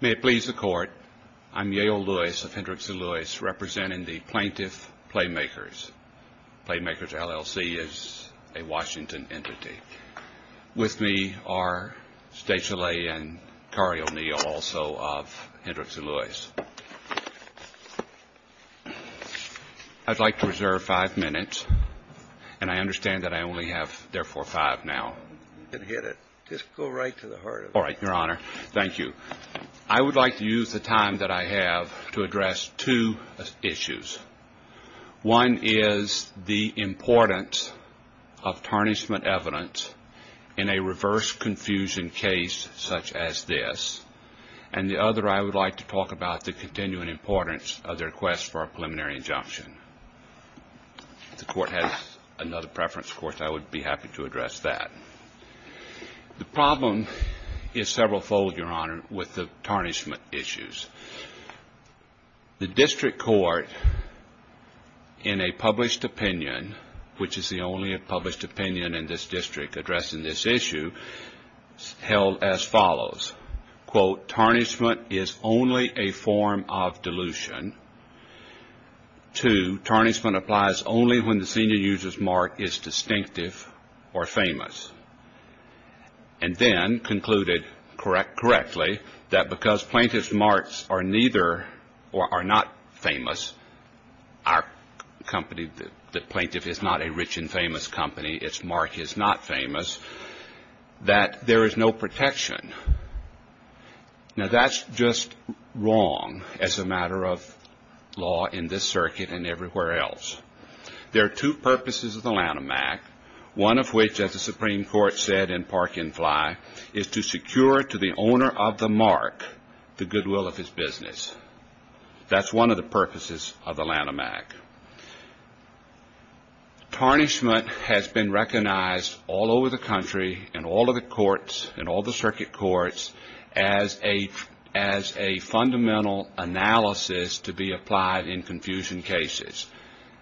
May it please the Court, I'm Yale Lewis of Hendricks & Lewis, representing the Plaintiff Playmakers. Playmakers, LLC, is a Washington entity. With me are State Soleil and Kari O'Neill, also of Hendricks & Lewis. I'd like to reserve five minutes, and I understand that I only have, therefore, five now. All right, Your Honor. Thank you. I would like to use the time that I have to address two issues. One is the importance of tarnishment evidence in a reverse confusion case such as this, and the other I would like to talk about the continuing importance of the request for a preliminary injunction. If the Court has another preference, of course, I would be happy to address that. The problem is several-fold, Your Honor, with the tarnishment issues. The district court, in a published opinion, which is the only published opinion in this district addressing this issue, held as follows. Quote, tarnishment is only a form of delusion. Two, tarnishment applies only when the senior user's mark is distinctive or famous. And then concluded correctly that because plaintiff's marks are neither or are not famous, our company, the plaintiff is not a rich and famous company, its mark is not famous, that there is no protection. Now, that's just wrong as a matter of law in this circuit and everywhere else. There are two purposes of the Lanham Act, one of which, as the Supreme Court said in Park and Fly, is to secure to the owner of the mark the goodwill of his business. That's one of the purposes of the Lanham Act. Tarnishment has been recognized all over the country in all of the courts, in all the circuit courts, as a fundamental analysis to be applied in confusion cases.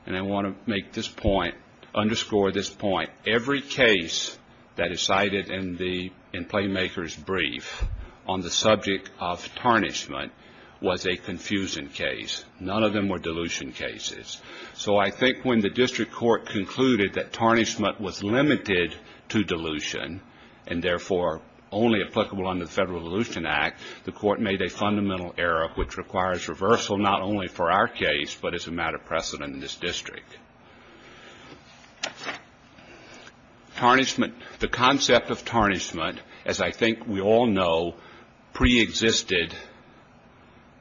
And I want to make this point, underscore this point, every case that is cited in Playmaker's brief on the subject of tarnishment was a confusion case. None of them were delusion cases. So I think when the district court concluded that tarnishment was limited to delusion and therefore only applicable under the Federal Delusion Act, the court made a fundamental error which requires reversal not only for our case but as a matter of precedent in this district. The concept of tarnishment, as I think we all know, preexisted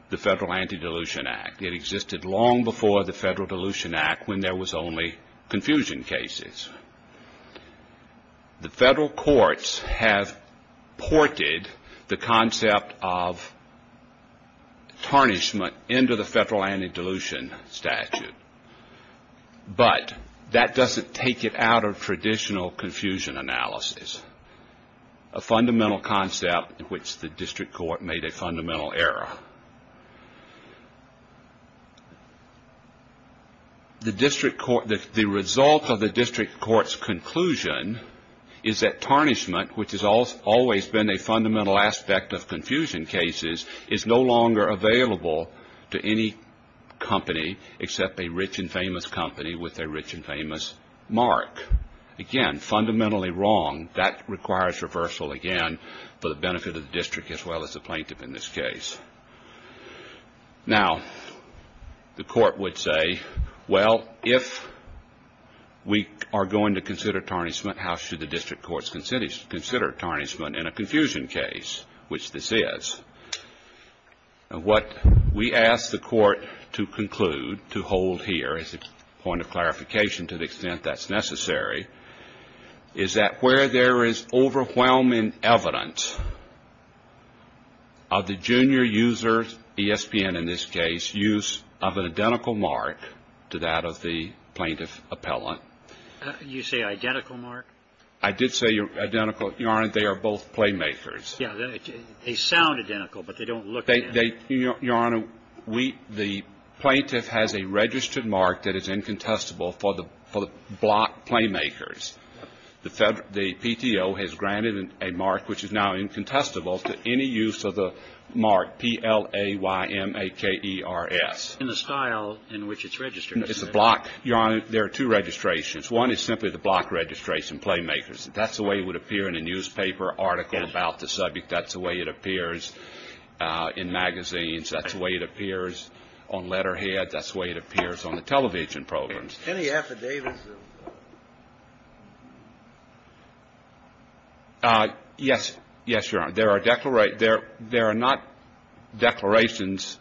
the Federal Anti-Delusion Act. It existed long before the Federal Delusion Act when there was only confusion cases. The federal courts have ported the concept of tarnishment into the Federal Anti-Delusion Statute, but that doesn't take it out of traditional confusion analysis, a fundamental concept in which the district court made a fundamental error. The result of the district court's conclusion is that tarnishment, which has always been a fundamental aspect of confusion cases, is no longer available to any company except a rich and famous company with a rich and famous mark. Again, fundamentally wrong. That requires reversal again for the benefit of the district as well as the plaintiff in this case. Now, the court would say, well, if we are going to consider tarnishment, how should the district courts consider tarnishment in a confusion case, which this is? And what we ask the Court to conclude, to hold here as a point of clarification to the extent that's necessary, is that where there is overwhelming evidence of the junior user, ESPN in this case, use of an identical mark to that of the plaintiff appellant. You say identical mark? I did say identical. Your Honor, they are both playmakers. Yeah, they sound identical, but they don't look identical. Your Honor, the plaintiff has a registered mark that is incontestable for the block playmakers. The PTO has granted a mark which is now incontestable to any use of the mark P-L-A-Y-M-A-K-E-R-S. In the style in which it's registered. It's a block. Your Honor, there are two registrations. One is simply the block registration playmakers. That's the way it would appear in a newspaper article about the subject. That's the way it appears in magazines. That's the way it appears on letterhead. That's the way it appears on the television programs. Any affidavits? Yes. Yes, Your Honor. There are not declarations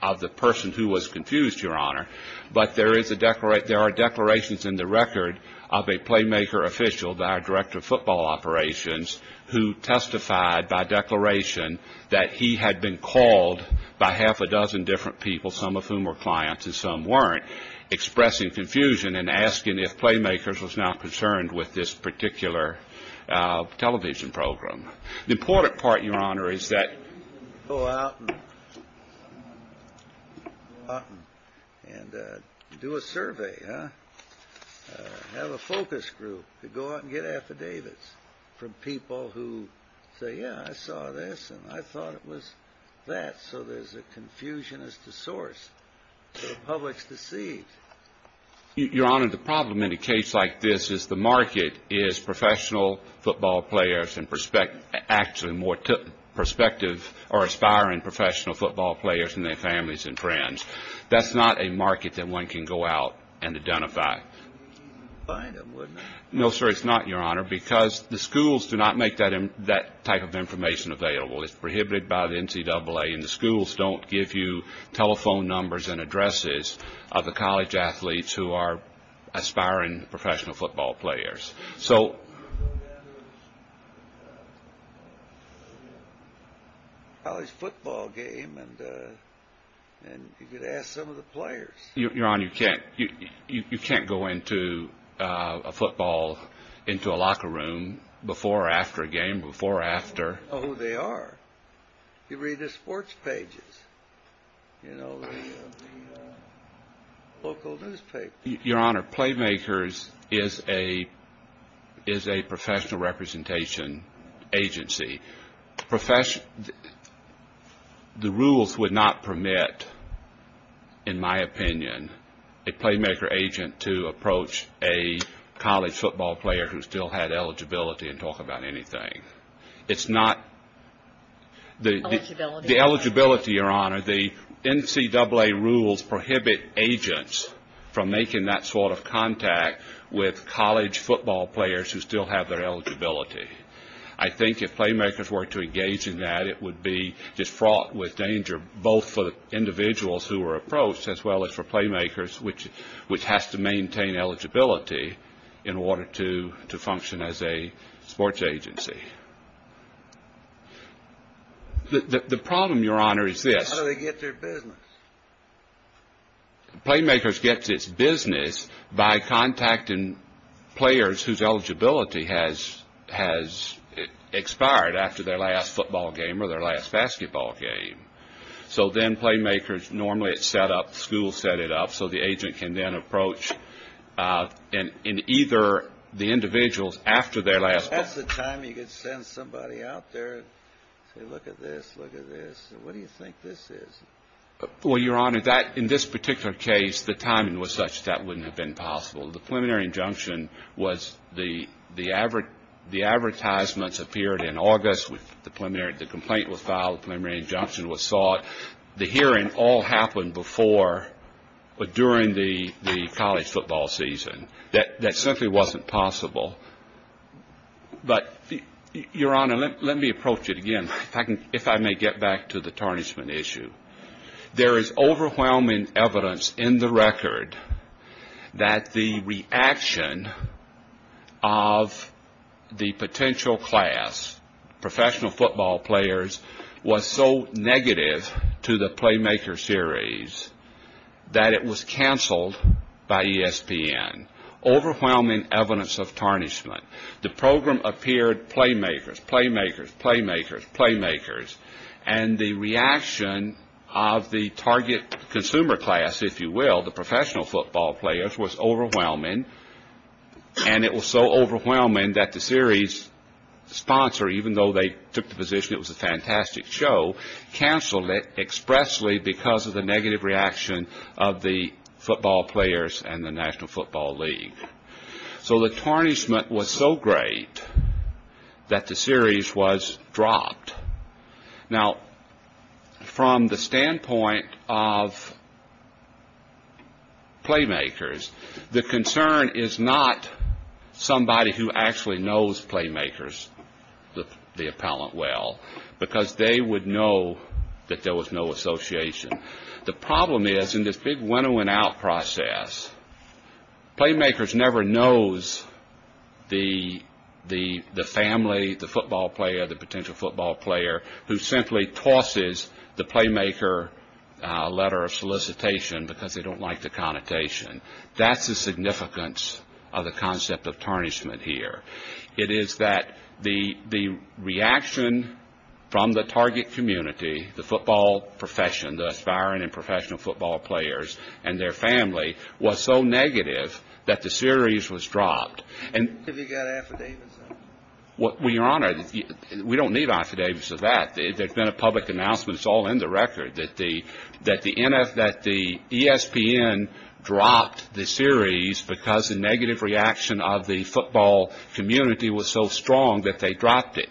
of the person who was confused, Your Honor, but there are declarations in the record of a playmaker official, the director of football operations, who testified by declaration that he had been called by half a dozen different people, some of whom were clients and some weren't, expressing confusion and asking if playmakers was not concerned with this particular television program. The important part, Your Honor, is that. Go out and do a survey, huh? Have a focus group to go out and get affidavits from people who say, yeah, I saw this, and I thought it was that, so there's a confusion as to source. So the public's deceived. Your Honor, the problem in a case like this is the market is professional football players and actually more perspective or aspiring professional football players and their families and friends. That's not a market that one can go out and identify. No, sir, it's not, Your Honor, because the schools do not make that type of information available. It's prohibited by the NCAA, and the schools don't give you telephone numbers and addresses of the college athletes who are aspiring professional football players. So. College football game, and you could ask some of the players. Your Honor, you can't go into a football, into a locker room before or after a game, before or after. Oh, they are. You read the sports pages, you know, the local newspaper. Your Honor, Playmakers is a professional representation agency. The rules would not permit, in my opinion, a Playmaker agent to approach a college football player who still had eligibility and talk about anything. It's not. Eligibility. The eligibility, Your Honor, the NCAA rules prohibit agents from making that sort of contact with college football players who still have their eligibility. I think if Playmakers were to engage in that, it would be just fraught with danger, both for the individuals who were approached as well as for Playmakers, which has to maintain eligibility in order to function as a sports agency. Eligibility. The problem, Your Honor, is this. How do they get their business? Playmakers gets its business by contacting players whose eligibility has expired after their last football game or their last basketball game. So then Playmakers, normally it's set up, schools set it up, That's the time you could send somebody out there and say, look at this, look at this. What do you think this is? Well, Your Honor, in this particular case, the timing was such that wouldn't have been possible. The preliminary injunction was the advertisements appeared in August. The complaint was filed. The preliminary injunction was sought. The hearing all happened before or during the college football season. That simply wasn't possible. But, Your Honor, let me approach it again, if I may get back to the tarnishment issue. There is overwhelming evidence in the record that the reaction of the potential class, professional football players, was so negative to the Playmakers series that it was canceled by ESPN. Overwhelming evidence of tarnishment. The program appeared, Playmakers, Playmakers, Playmakers, Playmakers. And the reaction of the target consumer class, if you will, the professional football players, was overwhelming. And it was so overwhelming that the series sponsor, even though they took the position it was a fantastic show, canceled it expressly because of the negative reaction of the football players and the National Football League. So the tarnishment was so great that the series was dropped. Now, from the standpoint of Playmakers, the concern is not somebody who actually knows Playmakers, the appellant, well, because they would know that there was no association. The problem is in this big winnowing out process, Playmakers never knows the family, the football player, the potential football player who simply tosses the Playmaker letter of solicitation because they don't like the connotation. That's the significance of the concept of tarnishment here. It is that the reaction from the target community, the football profession, the aspiring and professional football players and their family was so negative that the series was dropped. Have you got affidavits? Your Honor, we don't need affidavits of that. There's been a public announcement, it's all in the record, that the ESPN dropped the series because the negative reaction of the football community was so strong that they dropped it.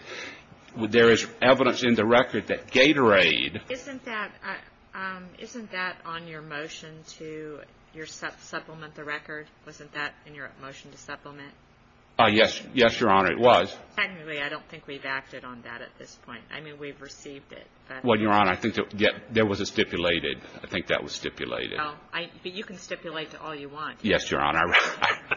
There is evidence in the record that Gatorade. Isn't that on your motion to supplement the record? Wasn't that in your motion to supplement? Yes, Your Honor, it was. Technically, I don't think we've acted on that at this point. I mean, we've received it. Well, Your Honor, I think there was a stipulated. I think that was stipulated. But you can stipulate to all you want. Yes, Your Honor,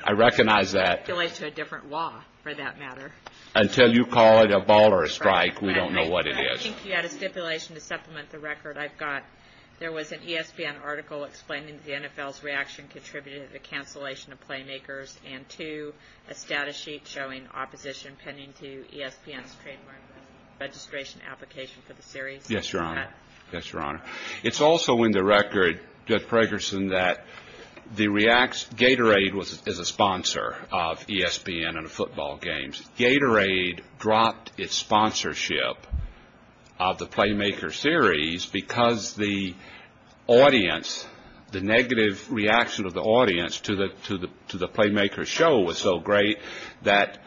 I recognize that. Stipulate to a different law, for that matter. Until you call it a ball or a strike, we don't know what it is. I think you had a stipulation to supplement the record. I've got, there was an ESPN article explaining the NFL's reaction contributed to the cancellation of Playmakers and two, a status sheet showing opposition pending to ESPN's trademark registration application for the series. Yes, Your Honor. Yes, Your Honor. It's also in the record, Judge Pragerson, that Gatorade is a sponsor of ESPN and football games. Gatorade dropped its sponsorship of the Playmakers series because the audience, the negative reaction of the audience to the Playmakers show was so great that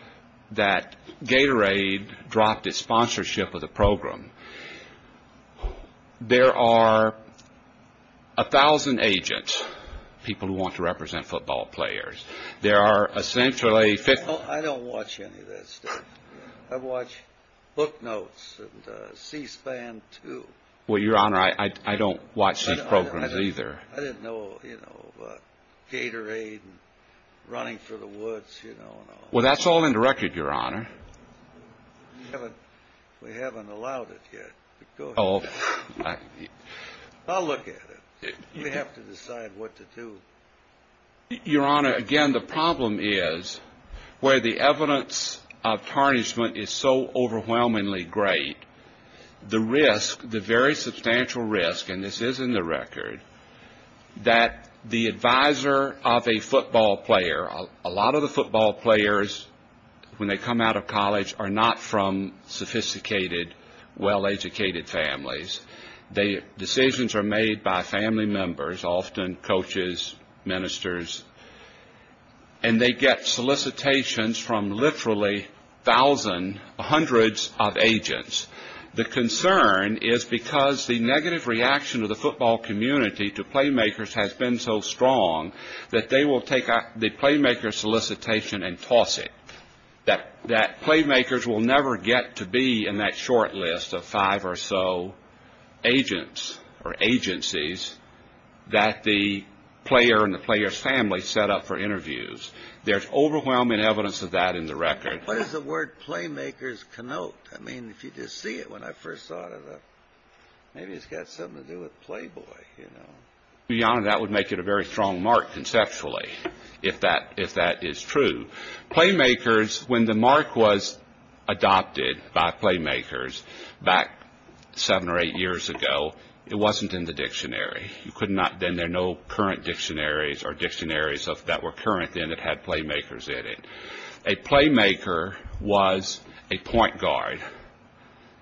Gatorade dropped its sponsorship of the program. There are a thousand agents, people who want to represent football players. There are essentially 50. I don't watch any of that stuff. I watch Book Notes and C-SPAN, too. Well, Your Honor, I don't watch these programs, either. I didn't know, you know, Gatorade and Running for the Woods, you know. Well, that's all in the record, Your Honor. We haven't allowed it yet. Go ahead. I'll look at it. We have to decide what to do. Your Honor, again, the problem is where the evidence of tarnishment is so overwhelmingly great, the risk, the very substantial risk, and this is in the record, that the advisor of a football player, a lot of the football players, when they come out of college, are not from sophisticated, well-educated families. Decisions are made by family members, often coaches, ministers, and they get solicitations from literally thousands, hundreds of agents. The concern is because the negative reaction of the football community to Playmakers has been so strong that they will take the Playmakers solicitation and toss it, that Playmakers will never get to be in that short list of five or so agents or agencies that the player and the player's family set up for interviews. There's overwhelming evidence of that in the record. What does the word Playmakers connote? I mean, if you just see it when I first saw it, maybe it's got something to do with Playboy, you know. That would make it a very strong mark conceptually, if that is true. Playmakers, when the mark was adopted by Playmakers back seven or eight years ago, it wasn't in the dictionary. Then there are no current dictionaries or dictionaries that were current then that had Playmakers in it. A Playmaker was a point guard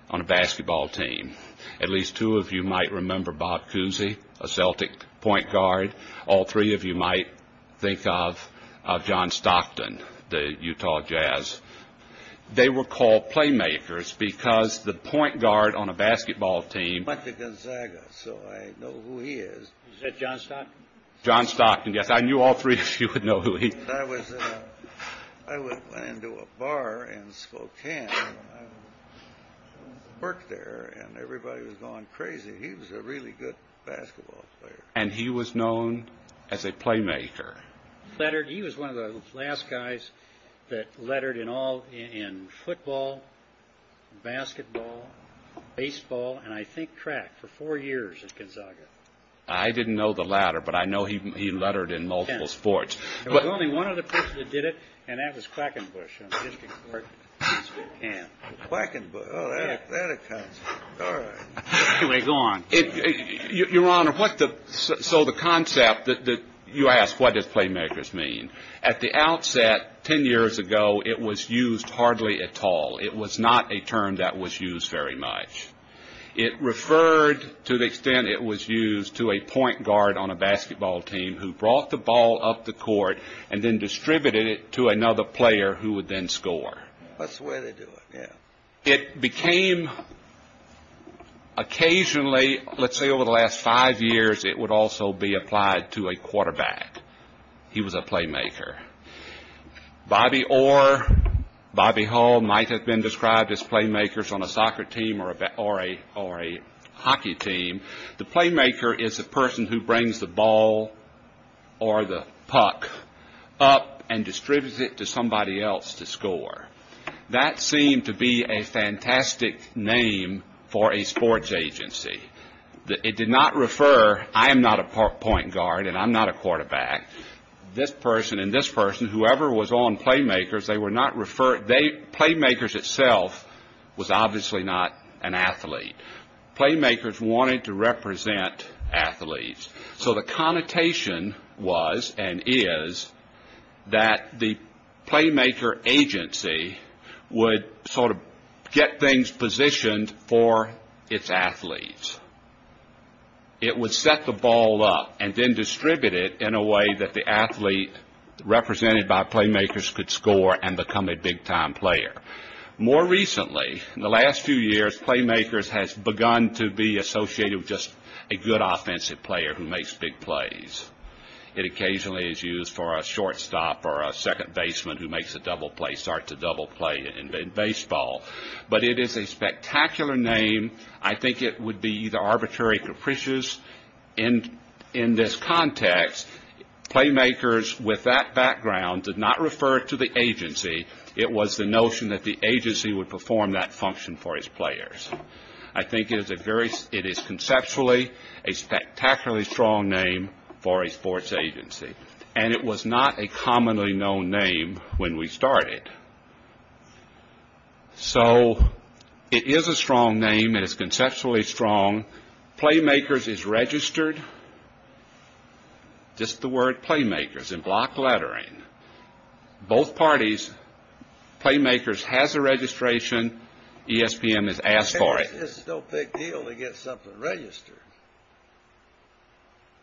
on a basketball team. At least two of you might remember Bob Cousy, a Celtic point guard. All three of you might think of John Stockton, the Utah Jazz. They were called Playmakers because the point guard on a basketball team— Went to Gonzaga, so I know who he is. Is that John Stockton? John Stockton, yes. I knew all three of you would know who he— I went into a bar in Spokane, worked there, and everybody was going crazy. He was a really good basketball player. And he was known as a Playmaker. He was one of the last guys that lettered in football, basketball, baseball, and I think track for four years at Gonzaga. I didn't know the latter, but I know he lettered in multiple sports. There was only one other person that did it, and that was Quackenbush. Quackenbush? Oh, that accounts for it. All right. Anyway, go on. Your Honor, so the concept that you asked, what does Playmakers mean? At the outset, 10 years ago, it was used hardly at all. It was not a term that was used very much. It referred to the extent it was used to a point guard on a basketball team who brought the ball up the court and then distributed it to another player who would then score. That's the way they do it, yeah. It became occasionally, let's say over the last five years, it would also be applied to a quarterback. He was a Playmaker. Bobby Orr, Bobby Hall might have been described as Playmakers on a soccer team or a hockey team. The Playmaker is a person who brings the ball or the puck up and distributes it to somebody else to score. That seemed to be a fantastic name for a sports agency. It did not refer, I am not a point guard and I'm not a quarterback. This person and this person, whoever was on Playmakers, Playmakers itself was obviously not an athlete. Playmakers wanted to represent athletes. So the connotation was and is that the Playmaker agency would sort of get things positioned for its athletes. It would set the ball up and then distribute it in a way that the athlete represented by Playmakers could score and become a big-time player. More recently, in the last few years, Playmakers has begun to be associated with just a good offensive player who makes big plays. It occasionally is used for a shortstop or a second baseman who makes a double play, starts a double play in baseball. But it is a spectacular name. I think it would be either arbitrary or capricious. In this context, Playmakers, with that background, did not refer to the agency. It was the notion that the agency would perform that function for its players. I think it is conceptually a spectacularly strong name for a sports agency. And it was not a commonly known name when we started. So it is a strong name. It is conceptually strong. Playmakers is registered. This is the word Playmakers in block lettering. Both parties, Playmakers has a registration. ESPN has asked for it. This is no big deal to get something registered.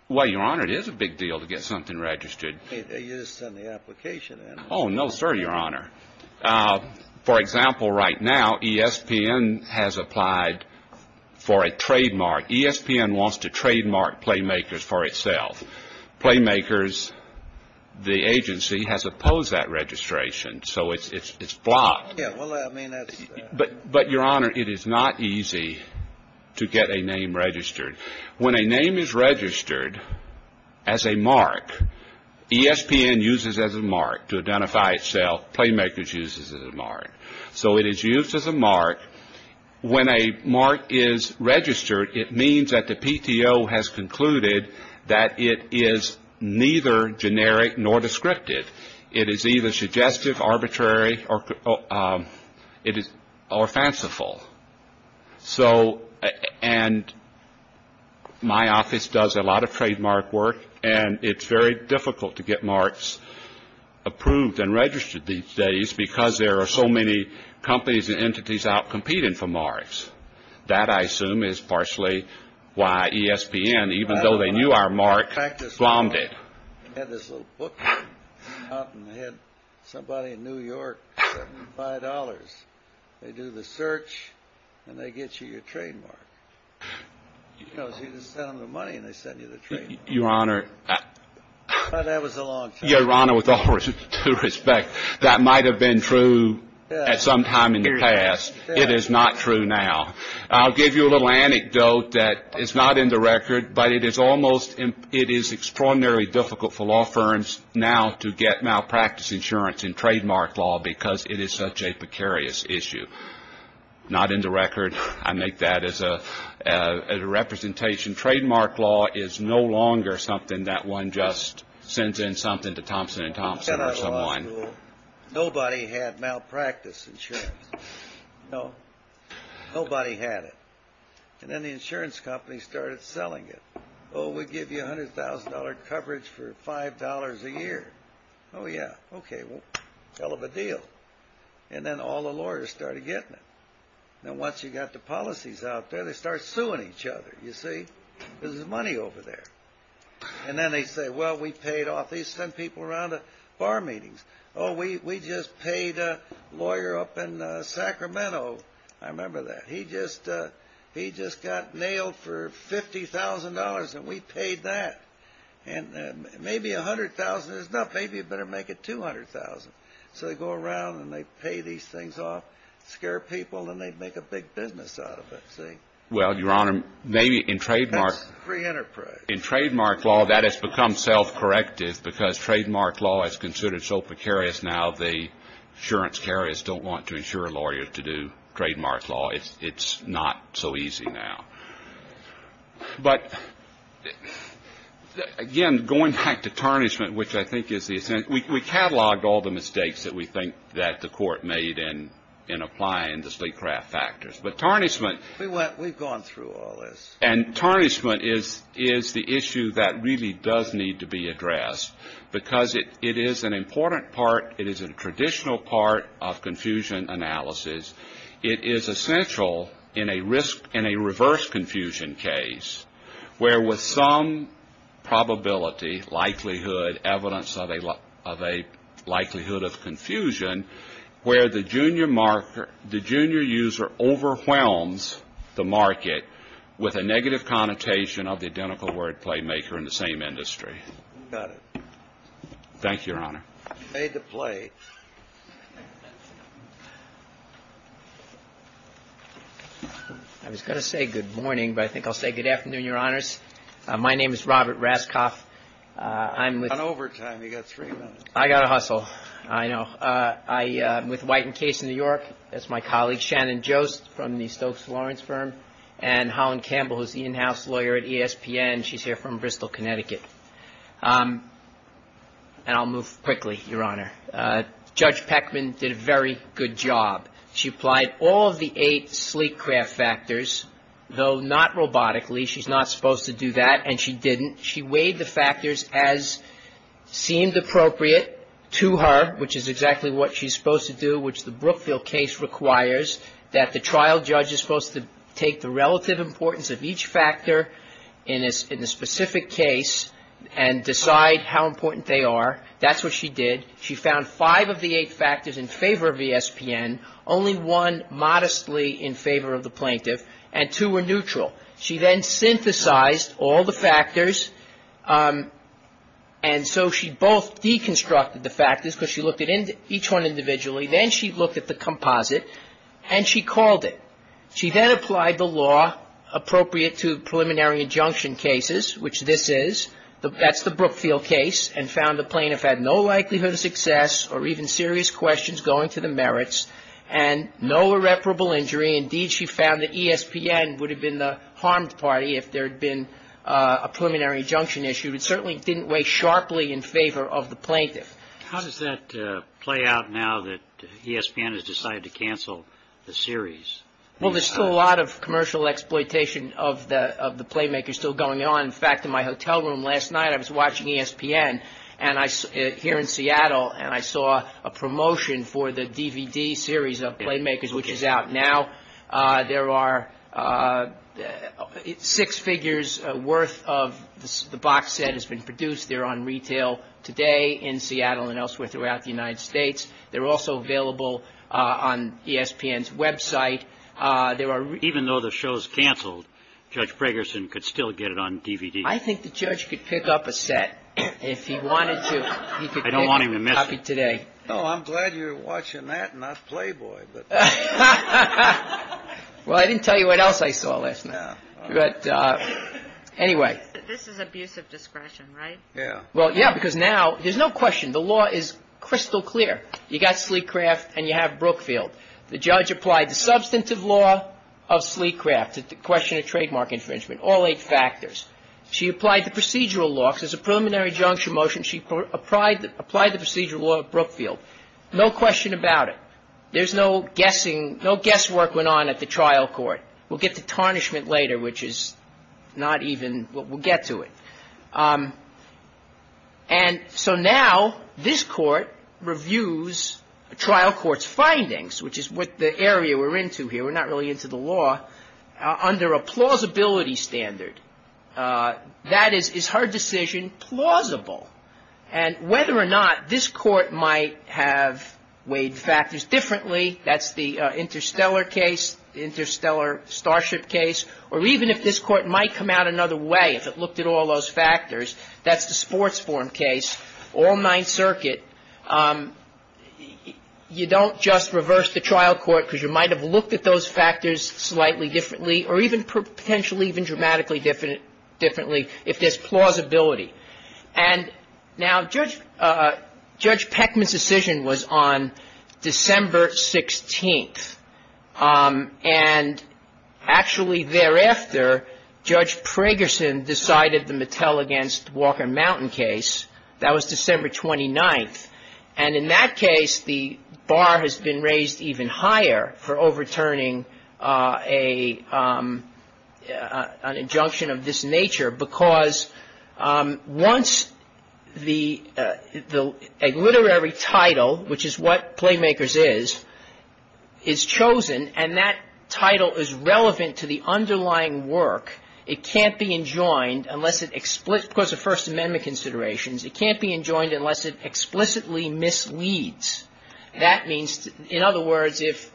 Well, Your Honor, it is a big deal to get something registered. You just send the application in. Oh, no, sir, Your Honor. For example, right now, ESPN has applied for a trademark. ESPN wants to trademark Playmakers for itself. Playmakers, the agency, has opposed that registration. So it is blocked. But, Your Honor, it is not easy to get a name registered. When a name is registered as a mark, ESPN uses it as a mark to identify itself. Playmakers uses it as a mark. So it is used as a mark. When a mark is registered, it means that the PTO has concluded that it is neither generic nor descriptive. It is either suggestive, arbitrary, or fanciful. So, and, my office does a lot of trademark work, and it is very difficult to get marks approved and registered these days because there are so many companies and entities out competing for marks. That, I assume, is partially why ESPN, even though they knew our mark, bombed it. I had this little book out, and I had somebody in New York send me $5. They do the search, and they get you your trademark. You know, so you just send them the money, and they send you the trademark. Your Honor. That was a long time ago. Your Honor, with all due respect, that might have been true at some time in the past. It is not true now. I'll give you a little anecdote that is not in the record, but it is almost, it is extraordinarily difficult for law firms now to get malpractice insurance in trademark law because it is such a precarious issue. Not in the record. I make that as a representation. Trademark law is no longer something that one just sends in something to Thompson & Thompson or someone. Nobody had malpractice insurance. No. Nobody had it. And then the insurance company started selling it. Oh, we'll give you $100,000 coverage for $5 a year. Oh, yeah. Okay. Well, hell of a deal. And then all the lawyers started getting it. And once you got the policies out there, they start suing each other, you see. This is money over there. And then they say, well, we paid off. They send people around to bar meetings. Oh, we just paid a lawyer up in Sacramento. I remember that. He just got nailed for $50,000 and we paid that. And maybe $100,000 is enough. Maybe you better make it $200,000. So they go around and they pay these things off, scare people, and they make a big business out of it, see. Well, Your Honor, maybe in trademark. That's free enterprise. In trademark law, that has become self-corrective because trademark law is considered so precarious now, the insurance carriers don't want to insure a lawyer to do trademark law. It's not so easy now. But, again, going back to tarnishment, which I think is the essence. We cataloged all the mistakes that we think that the Court made in applying the sleep-craft factors. But tarnishment. We've gone through all this. And tarnishment is the issue that really does need to be addressed because it is an important part. It is a traditional part of confusion analysis. It is essential in a reverse confusion case where with some probability, likelihood, evidence of a likelihood of confusion where the junior marker, the junior user overwhelms the market with a negative connotation of the identical word playmaker in the same industry. Thank you, Your Honor. You made the play. I was going to say good morning, but I think I'll say good afternoon, Your Honors. My name is Robert Raskoff. I'm with you. You're on overtime. You've got three minutes. I've got to hustle. I know. I'm with Whiten Case in New York. That's my colleague, Shannon Jost, from the Stokes Lawrence firm. And Holland Campbell is the in-house lawyer at ESPN. She's here from Bristol, Connecticut. And I'll move quickly, Your Honor. Judge Peckman did a very good job. She applied all of the eight sleek craft factors, though not robotically. She's not supposed to do that, and she didn't. She weighed the factors as seemed appropriate to her, which is exactly what she's supposed to do, which the Brookfield case requires, that the trial judge is supposed to take the relative importance of each factor in a specific case and decide how important they are. That's what she did. She found five of the eight factors in favor of ESPN, only one modestly in favor of the plaintiff, and two were neutral. She then synthesized all the factors, and so she both deconstructed the factors, because she looked at each one individually. Then she looked at the composite, and she called it. She then applied the law appropriate to preliminary injunction cases, which this is. That's the Brookfield case, and found the plaintiff had no likelihood of success or even serious questions going to the merits, and no irreparable injury. Indeed, she found that ESPN would have been the harmed party if there had been a preliminary injunction issue. It certainly didn't weigh sharply in favor of the plaintiff. How does that play out now that ESPN has decided to cancel the series? Well, there's still a lot of commercial exploitation of the Playmakers still going on. In fact, in my hotel room last night, I was watching ESPN here in Seattle, and I saw a promotion for the DVD series of Playmakers, which is out now. There are six figures worth of the box set has been produced. They're on retail today in Seattle and elsewhere throughout the United States. They're also available on ESPN's website. Even though the show's canceled, Judge Bragerson could still get it on DVD. I think the judge could pick up a set if he wanted to. I don't want him to miss it. No, I'm glad you're watching that and not Playboy. Well, I didn't tell you what else I saw last night. But anyway. This is abuse of discretion, right? Yeah. Well, yeah, because now there's no question. The law is crystal clear. You've got Sleecraft and you have Brookfield. The judge applied the substantive law of Sleecraft, the question of trademark infringement, all eight factors. She applied the procedural law. There's a preliminary injunction motion. She applied the procedural law of Brookfield. No question about it. There's no guessing. No guesswork went on at the trial court. We'll get to tarnishment later, which is not even what we'll get to it. And so now this court reviews a trial court's findings, which is what the area we're into here. We're not really into the law. Under a plausibility standard, that is, is her decision plausible? And whether or not this court might have weighed factors differently, that's the interstellar case, interstellar starship case, or even if this court might come out another way if it looked at all those factors, that's the sports form case, all nine circuit. You don't just reverse the trial court because you might have looked at those factors slightly differently or even potentially even dramatically differently if there's plausibility. And now Judge Peckman's decision was on December 16th. And actually thereafter, Judge Pragerson decided the Mattel against Walker Mountain case. That was December 29th. And in that case, the bar has been raised even higher for overturning an injunction of this nature because once a literary title, which is what Playmakers is, is chosen, and that title is relevant to the underlying work, it can't be enjoined unless it explicit because of First Amendment considerations, it can't be enjoined unless it explicitly misleads. That means, in other words, if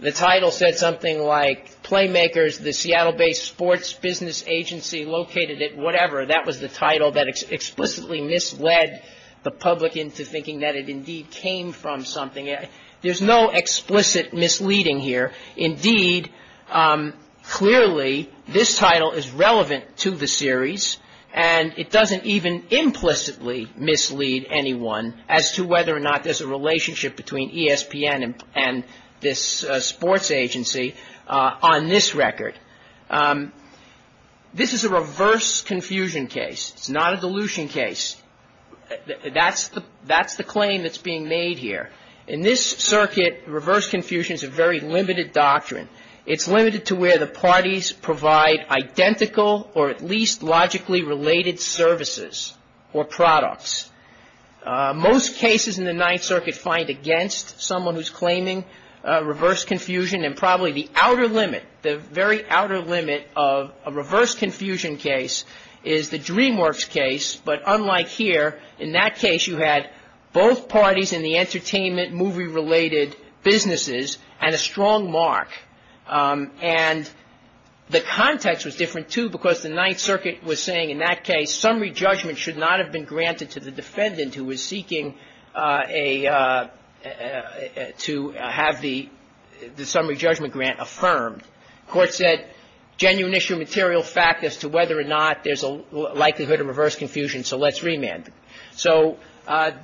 the title said something like Playmakers, the Seattle-based sports business agency located it, whatever, that was the title that explicitly misled the public into thinking that it indeed came from something. There's no explicit misleading here. Indeed, clearly, this title is relevant to the series, and it doesn't even implicitly mislead anyone as to whether or not there's a relationship between ESPN and this sports agency on this record. This is a reverse confusion case. It's not a dilution case. That's the claim that's being made here. In this circuit, reverse confusion is a very limited doctrine. It's limited to where the parties provide identical or at least logically related services or products. Most cases in the Ninth Circuit find against someone who's claiming reverse confusion, and probably the outer limit, the very outer limit of a reverse confusion case is the DreamWorks case, but unlike here, in that case, you had both parties in the entertainment movie-related businesses and a strong mark. And the context was different, too, because the Ninth Circuit was saying, in that case, summary judgment should not have been granted to the defendant who was seeking to have the summary judgment grant affirmed. The court said, genuine issue material fact as to whether or not there's a likelihood of reverse confusion, so let's remand. So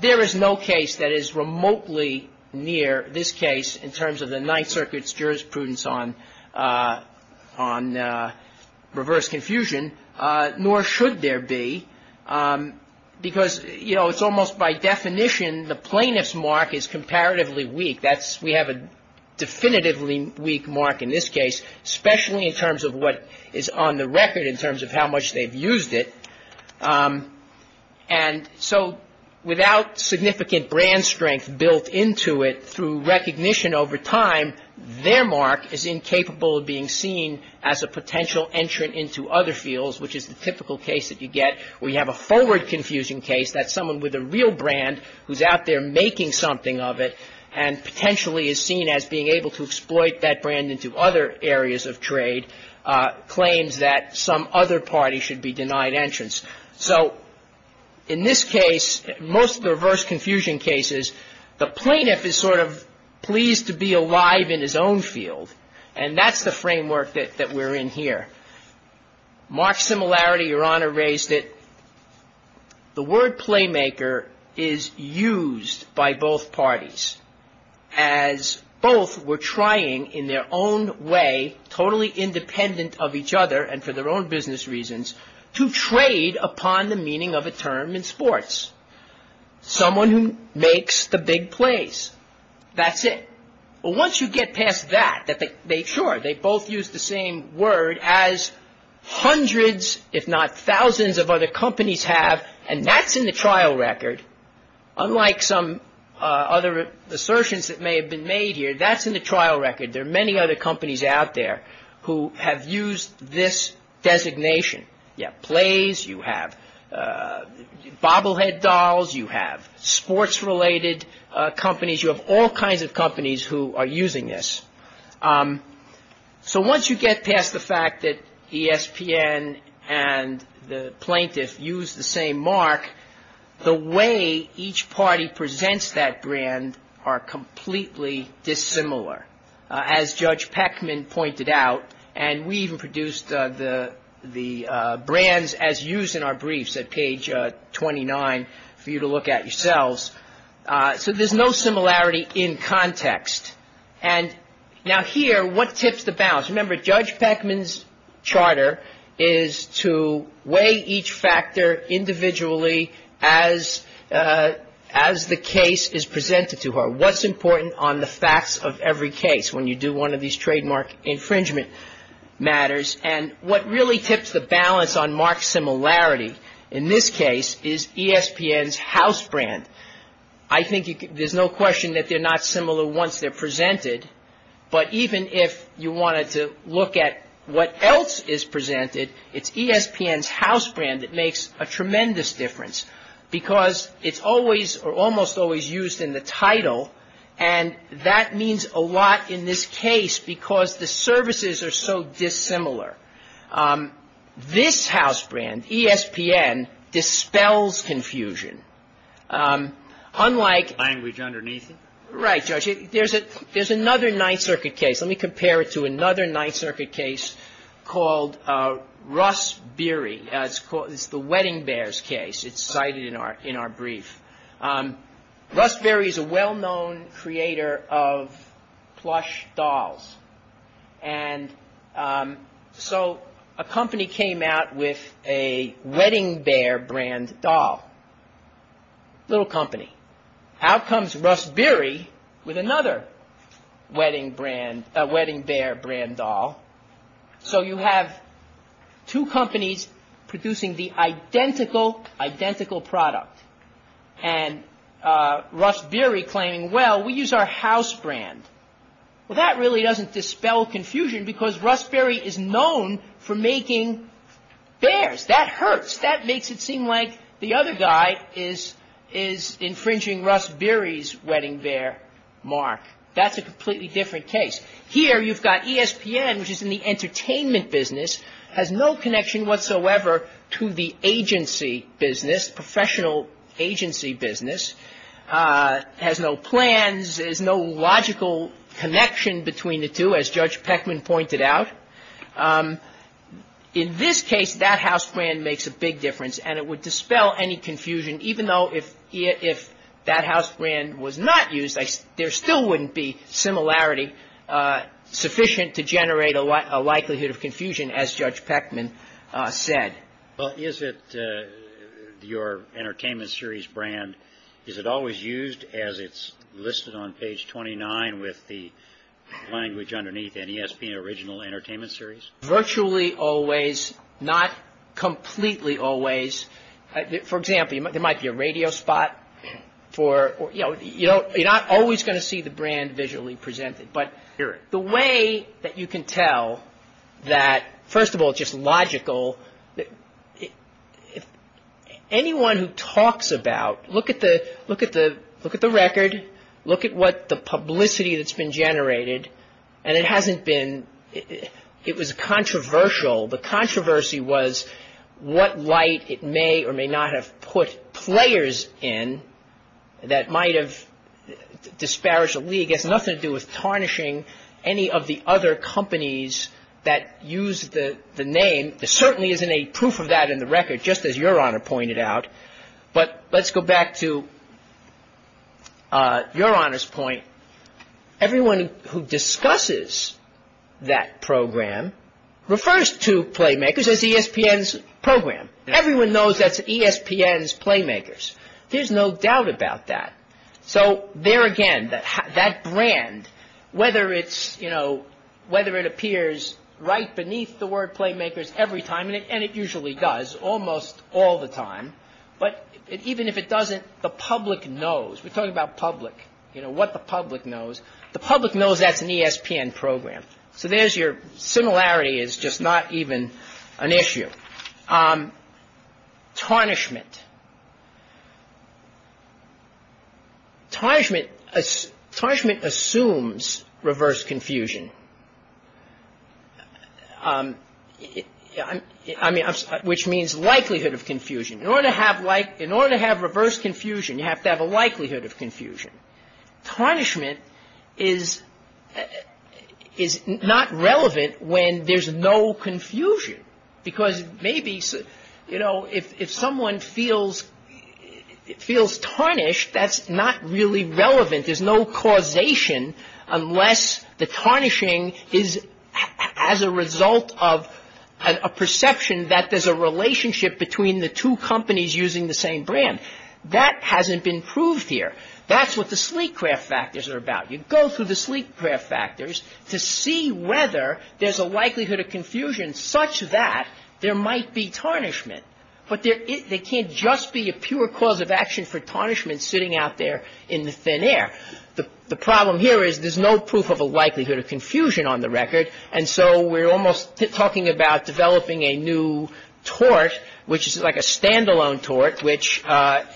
there is no case that is remotely near this case in terms of the Ninth Circuit's jurisprudence on reverse confusion, nor should there be, because, you know, it's almost by definition the plaintiff's mark is comparatively weak. We have a definitively weak mark in this case, especially in terms of what is on the record in terms of how much they've used it. And so without significant brand strength built into it through recognition over time, their mark is incapable of being seen as a potential entrant into other fields, which is the typical case that you get where you have a forward confusion case. That's someone with a real brand who's out there making something of it and potentially is seen as being able to exploit that brand into other areas of trade, claims that some other party should be denied entrance. So in this case, most of the reverse confusion cases, the plaintiff is sort of pleased to be alive in his own field. And that's the framework that we're in here. Mark's similarity, Your Honor, raised it. The word playmaker is used by both parties as both were trying in their own way, totally independent of each other and for their own business reasons, to trade upon the meaning of a term in sports. Someone who makes the big plays. That's it. Well, once you get past that, sure, they both use the same word as hundreds, if not thousands of other companies have, and that's in the trial record. Unlike some other assertions that may have been made here, that's in the trial record. There are many other companies out there who have used this designation. You have plays. You have bobblehead dolls. You have sports-related companies. You have all kinds of companies who are using this. So once you get past the fact that ESPN and the plaintiff use the same mark, the way each party presents that brand are completely dissimilar, as Judge Peckman pointed out. And we even produced the brands as used in our briefs at page 29 for you to look at yourselves. So there's no similarity in context. And now here, what tips the balance? Remember, Judge Peckman's charter is to weigh each factor individually as the case is presented to her. What's important on the facts of every case when you do one of these trademark infringement matters? And what really tips the balance on mark similarity in this case is ESPN's house brand. I think there's no question that they're not similar once they're presented. But even if you wanted to look at what else is presented, it's ESPN's house brand that makes a tremendous difference because it's always or almost always used in the title. And that means a lot in this case because the services are so dissimilar. This house brand, ESPN, dispels confusion. Unlike — Language underneath it. Right, Judge. There's another Ninth Circuit case. Let me compare it to another Ninth Circuit case called Russ Berry. It's the Wedding Bears case. It's cited in our brief. Russ Berry is a well-known creator of plush dolls. And so a company came out with a Wedding Bear brand doll. Little company. Out comes Russ Berry with another Wedding Bear brand doll. So you have two companies producing the identical, identical product. And Russ Berry claiming, well, we use our house brand. Well, that really doesn't dispel confusion because Russ Berry is known for making bears. That hurts. That makes it seem like the other guy is infringing Russ Berry's Wedding Bear mark. That's a completely different case. Here you've got ESPN, which is in the entertainment business, has no connection whatsoever to the agency business, professional agency business. It has no plans. There's no logical connection between the two, as Judge Peckman pointed out. In this case, that house brand makes a big difference, and it would dispel any confusion, even though if that house brand was not used, there still wouldn't be similarity sufficient to generate a likelihood of confusion, as Judge Peckman said. Well, is it your entertainment series brand, is it always used as it's listed on page 29 with the language underneath, NESP, original entertainment series? Virtually always. Not completely always. For example, there might be a radio spot for, you know, you're not always going to see the brand visually presented, but the way that you can tell that, first of all, it's just logical. Anyone who talks about, look at the record, look at what the publicity that's been generated, and it hasn't been, it was controversial. The controversy was what light it may or may not have put players in that might have disparaged the league. It has nothing to do with tarnishing any of the other companies that use the name. There certainly isn't any proof of that in the record, just as Your Honor pointed out. But let's go back to Your Honor's point. Everyone who discusses that program refers to Playmakers as ESPN's program. Everyone knows that's ESPN's Playmakers. There's no doubt about that. So there again, that brand, whether it's, you know, whether it appears right beneath the word Playmakers every time, and it usually does almost all the time, but even if it doesn't, the public knows. We're talking about public, you know, what the public knows. The public knows that's an ESPN program. So there's your similarity is just not even an issue. Tarnishment. Tarnishment assumes reverse confusion, which means likelihood of confusion. In order to have reverse confusion, you have to have a likelihood of confusion. Tarnishment is not relevant when there's no confusion, because maybe, you know, if someone feels tarnished, that's not really relevant. There's no causation unless the tarnishing is as a result of a perception that there's a relationship between the two companies using the same brand. That hasn't been proved here. That's what the sleek craft factors are about. You go through the sleek craft factors to see whether there's a likelihood of confusion such that there might be tarnishment, but there can't just be a pure cause of action for tarnishment sitting out there in the thin air. The problem here is there's no proof of a likelihood of confusion on the record, and so we're almost talking about developing a new tort, which is like a standalone tort, which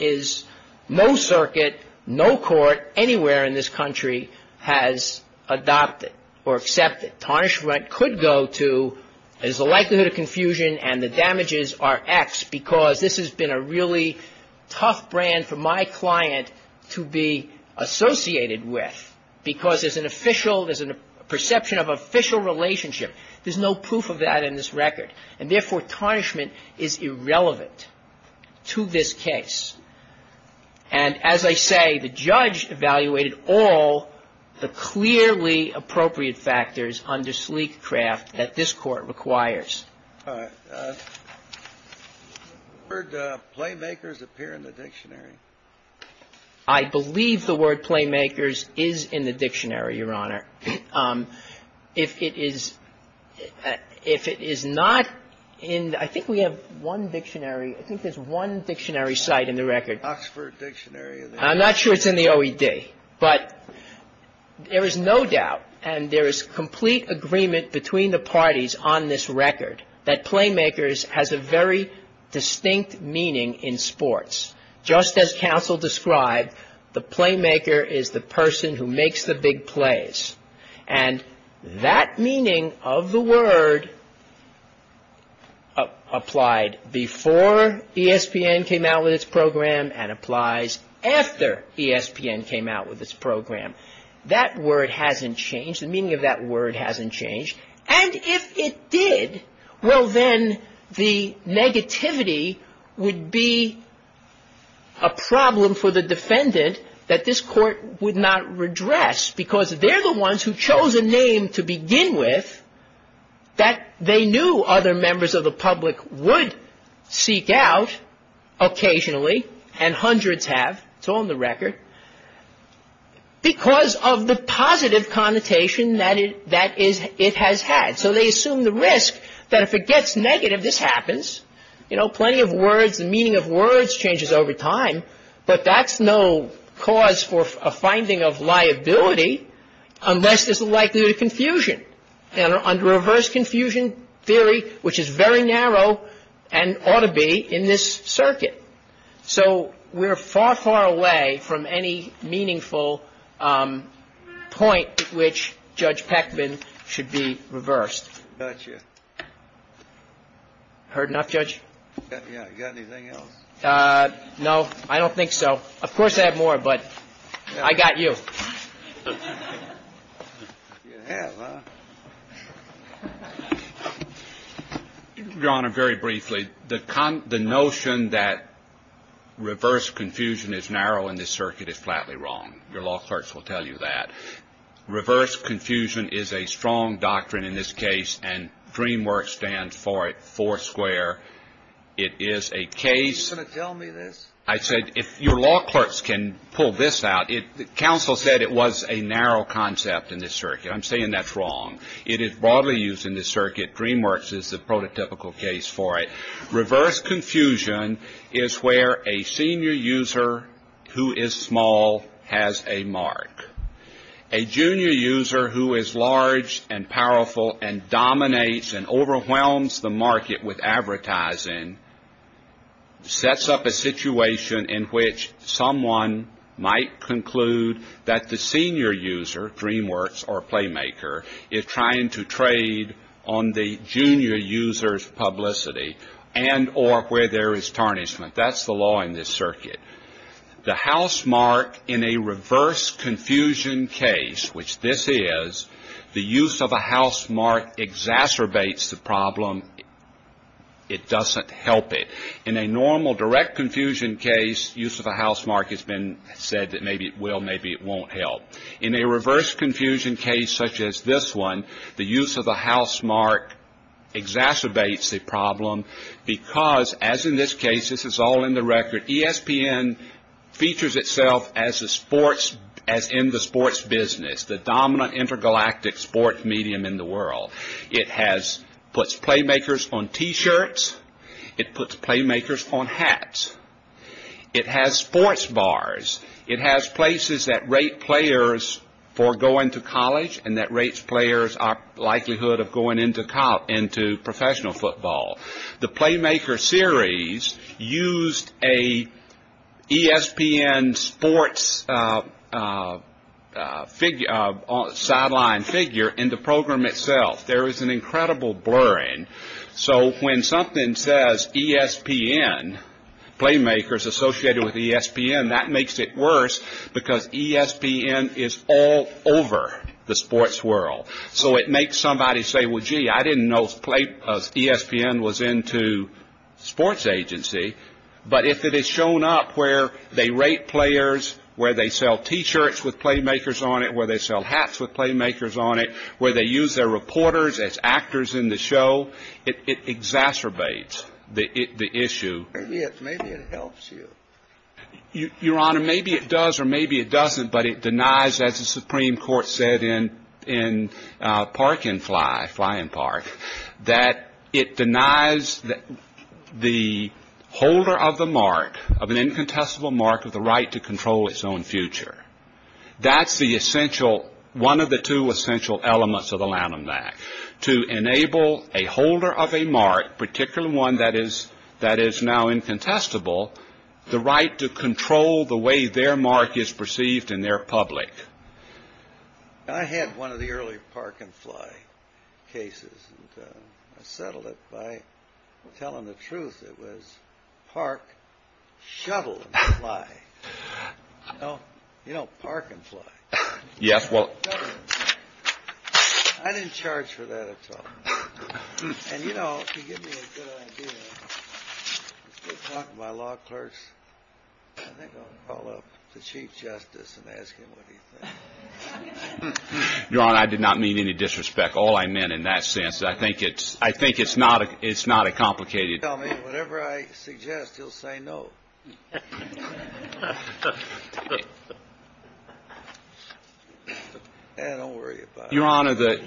is no circuit, no court anywhere in this country has adopted or accepted. Tarnishment could go to there's a likelihood of confusion and the damages are X, because this has been a really tough brand for my client to be associated with, because there's an official, there's a perception of official relationship. There's no proof of that in this record, and therefore, tarnishment is irrelevant to this case. And as I say, the judge evaluated all the clearly appropriate factors under sleek craft that this court requires. All right. The word playmakers appear in the dictionary. I believe the word playmakers is in the dictionary, Your Honor. If it is not in, I think we have one dictionary, I think there's one dictionary site in the record. Oxford Dictionary. I'm not sure it's in the OED, but there is no doubt, and there is complete agreement between the parties on this record, that playmakers has a very distinct meaning in sports. Just as counsel described, the playmaker is the person who makes the big plays. And that meaning of the word applied before ESPN came out with its program and applies after ESPN came out with its program. That word hasn't changed. The meaning of that word hasn't changed. And if it did, well, then the negativity would be a problem for the defendant that this court would not redress, because they're the ones who chose a name to begin with that they knew other members of the public would seek out occasionally, and hundreds have, it's all in the record, because of the positive connotation that it has had. So they assume the risk that if it gets negative, this happens, you know, plenty of words, the meaning of words changes over time, but that's no cause for a finding of liability unless there's a likelihood of confusion, under reverse confusion theory, which is very narrow and ought to be in this circuit. So we're far, far away from any meaningful point which Judge Peckman should be reversed. Gotcha. Heard enough, Judge? Yeah. You got anything else? No, I don't think so. Of course, I have more, but I got you. You have, huh? Your Honor, very briefly, the notion that reverse confusion is narrow in this circuit is flatly wrong. Your law clerks will tell you that. Reverse confusion is a strong doctrine in this case, and DreamWorks stands for it, Foursquare. It is a case. Are you going to tell me this? I said if your law clerks can pull this out. Counsel said it was a narrow concept in this circuit. I'm saying that's wrong. It is broadly used in this circuit. DreamWorks is the prototypical case for it. Reverse confusion is where a senior user who is small has a mark. A junior user who is large and powerful and dominates and overwhelms the market with advertising sets up a situation in which someone might conclude that the senior user, DreamWorks or Playmaker, is trying to trade on the junior user's publicity and or where there is tarnishment. That's the law in this circuit. The housemark in a reverse confusion case, which this is, the use of a housemark exacerbates the problem. It doesn't help it. In a normal direct confusion case, use of a housemark has been said that maybe it will, maybe it won't help. In a reverse confusion case such as this one, the use of a housemark exacerbates the problem because, as in this case, this is all in the record, ESPN features itself as in the sports business, the dominant intergalactic sport medium in the world. It puts Playmakers on T-shirts. It puts Playmakers on hats. It has sports bars. It has places that rate players for going to college and that rates players' likelihood of going into professional football. The Playmaker series used an ESPN sports sideline figure in the program itself. There is an incredible blurring. So when something says ESPN, Playmakers associated with ESPN, that makes it worse because ESPN is all over the sports world. So it makes somebody say, well, gee, I didn't know ESPN was into sports agency. But if it has shown up where they rate players, where they sell T-shirts with Playmakers on it, where they sell hats with Playmakers on it, where they use their reporters as actors in the show, it exacerbates the issue. Maybe it helps you. Your Honor, maybe it does or maybe it doesn't, but it denies, as the Supreme Court said in Park and Fly, Fly and Park, that it denies the holder of the mark, of an incontestable mark, of the right to control its own future. That's the essential, one of the two essential elements of the Lanham Act, to enable a holder of a mark, particularly one that is now incontestable, the right to control the way their mark is perceived in their public. I had one of the early Park and Fly cases. I settled it by telling the truth. It was Park, Shuttle and Fly. You know Park and Fly? Yes. I didn't charge for that at all. And you know, if you give me a good idea, let's go talk to my law clerks. I think I'll call up the Chief Justice and ask him what he thinks. Your Honor, I did not mean any disrespect. All I meant in that sense is I think it's not a complicated... Whatever I suggest, he'll say no. Don't worry about it. Your Honor, the...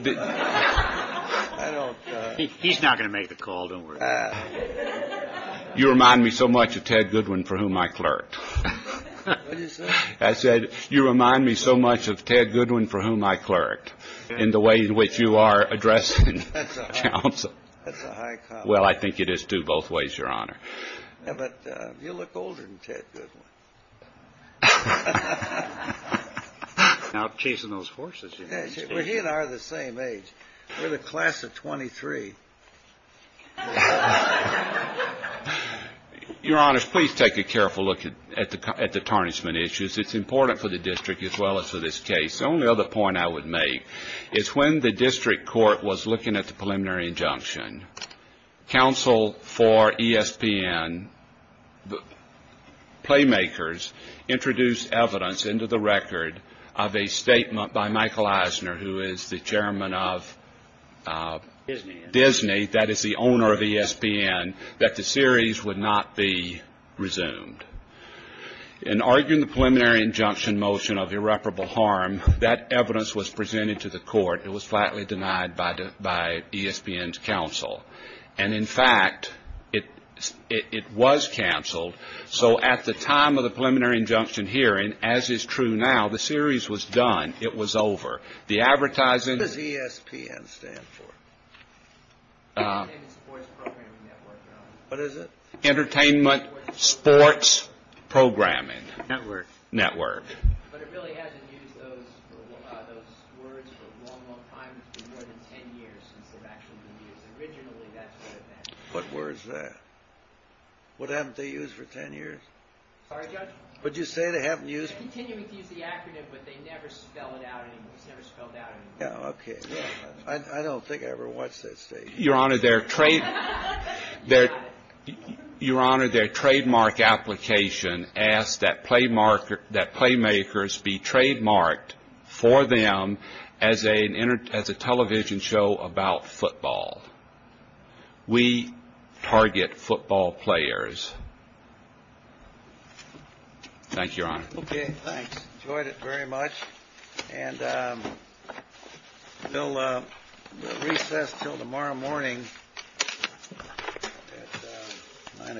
He's not going to make the call, don't worry about it. You remind me so much of Ted Goodwin, for whom I clerked. What did you say? I said, you remind me so much of Ted Goodwin, for whom I clerked, in the way in which you are addressing counsel. That's a high comment. Well, I think it is too, both ways, Your Honor. Yeah, but you look older than Ted Goodwin. You're not chasing those horses, you know. Well, he and I are the same age. We're the class of 23. Your Honor, please take a careful look at the tarnishment issues. It's important for the district as well as for this case. The only other point I would make is when the district court was looking at the preliminary injunction, counsel for ESPN Playmakers introduced evidence into the record of a statement by Michael Eisner, who is the chairman of Disney, that is the owner of ESPN, that the series would not be resumed. In arguing the preliminary injunction motion of irreparable harm, that evidence was presented to the court. It was flatly denied by ESPN's counsel. And, in fact, it was canceled. So at the time of the preliminary injunction hearing, as is true now, the series was done. It was over. What does ESPN stand for? Entertainment Sports Programming Network, Your Honor. What is it? Entertainment Sports Programming Network. But it really hasn't used those words for a long, long time. It's been more than 10 years since they've actually been used. Originally, that's what it meant. What word is that? What haven't they used for 10 years? Sorry, Judge? What did you say they haven't used? They're continuing to use the acronym, but they never spell it out anymore. It's never spelled out anymore. Oh, okay. I don't think I ever watched that statement. Your Honor, their trademark application asks that Playmakers be trademarked for them as a television show about football. We target football players. Thank you, Your Honor. Okay, thanks. Enjoyed it very much.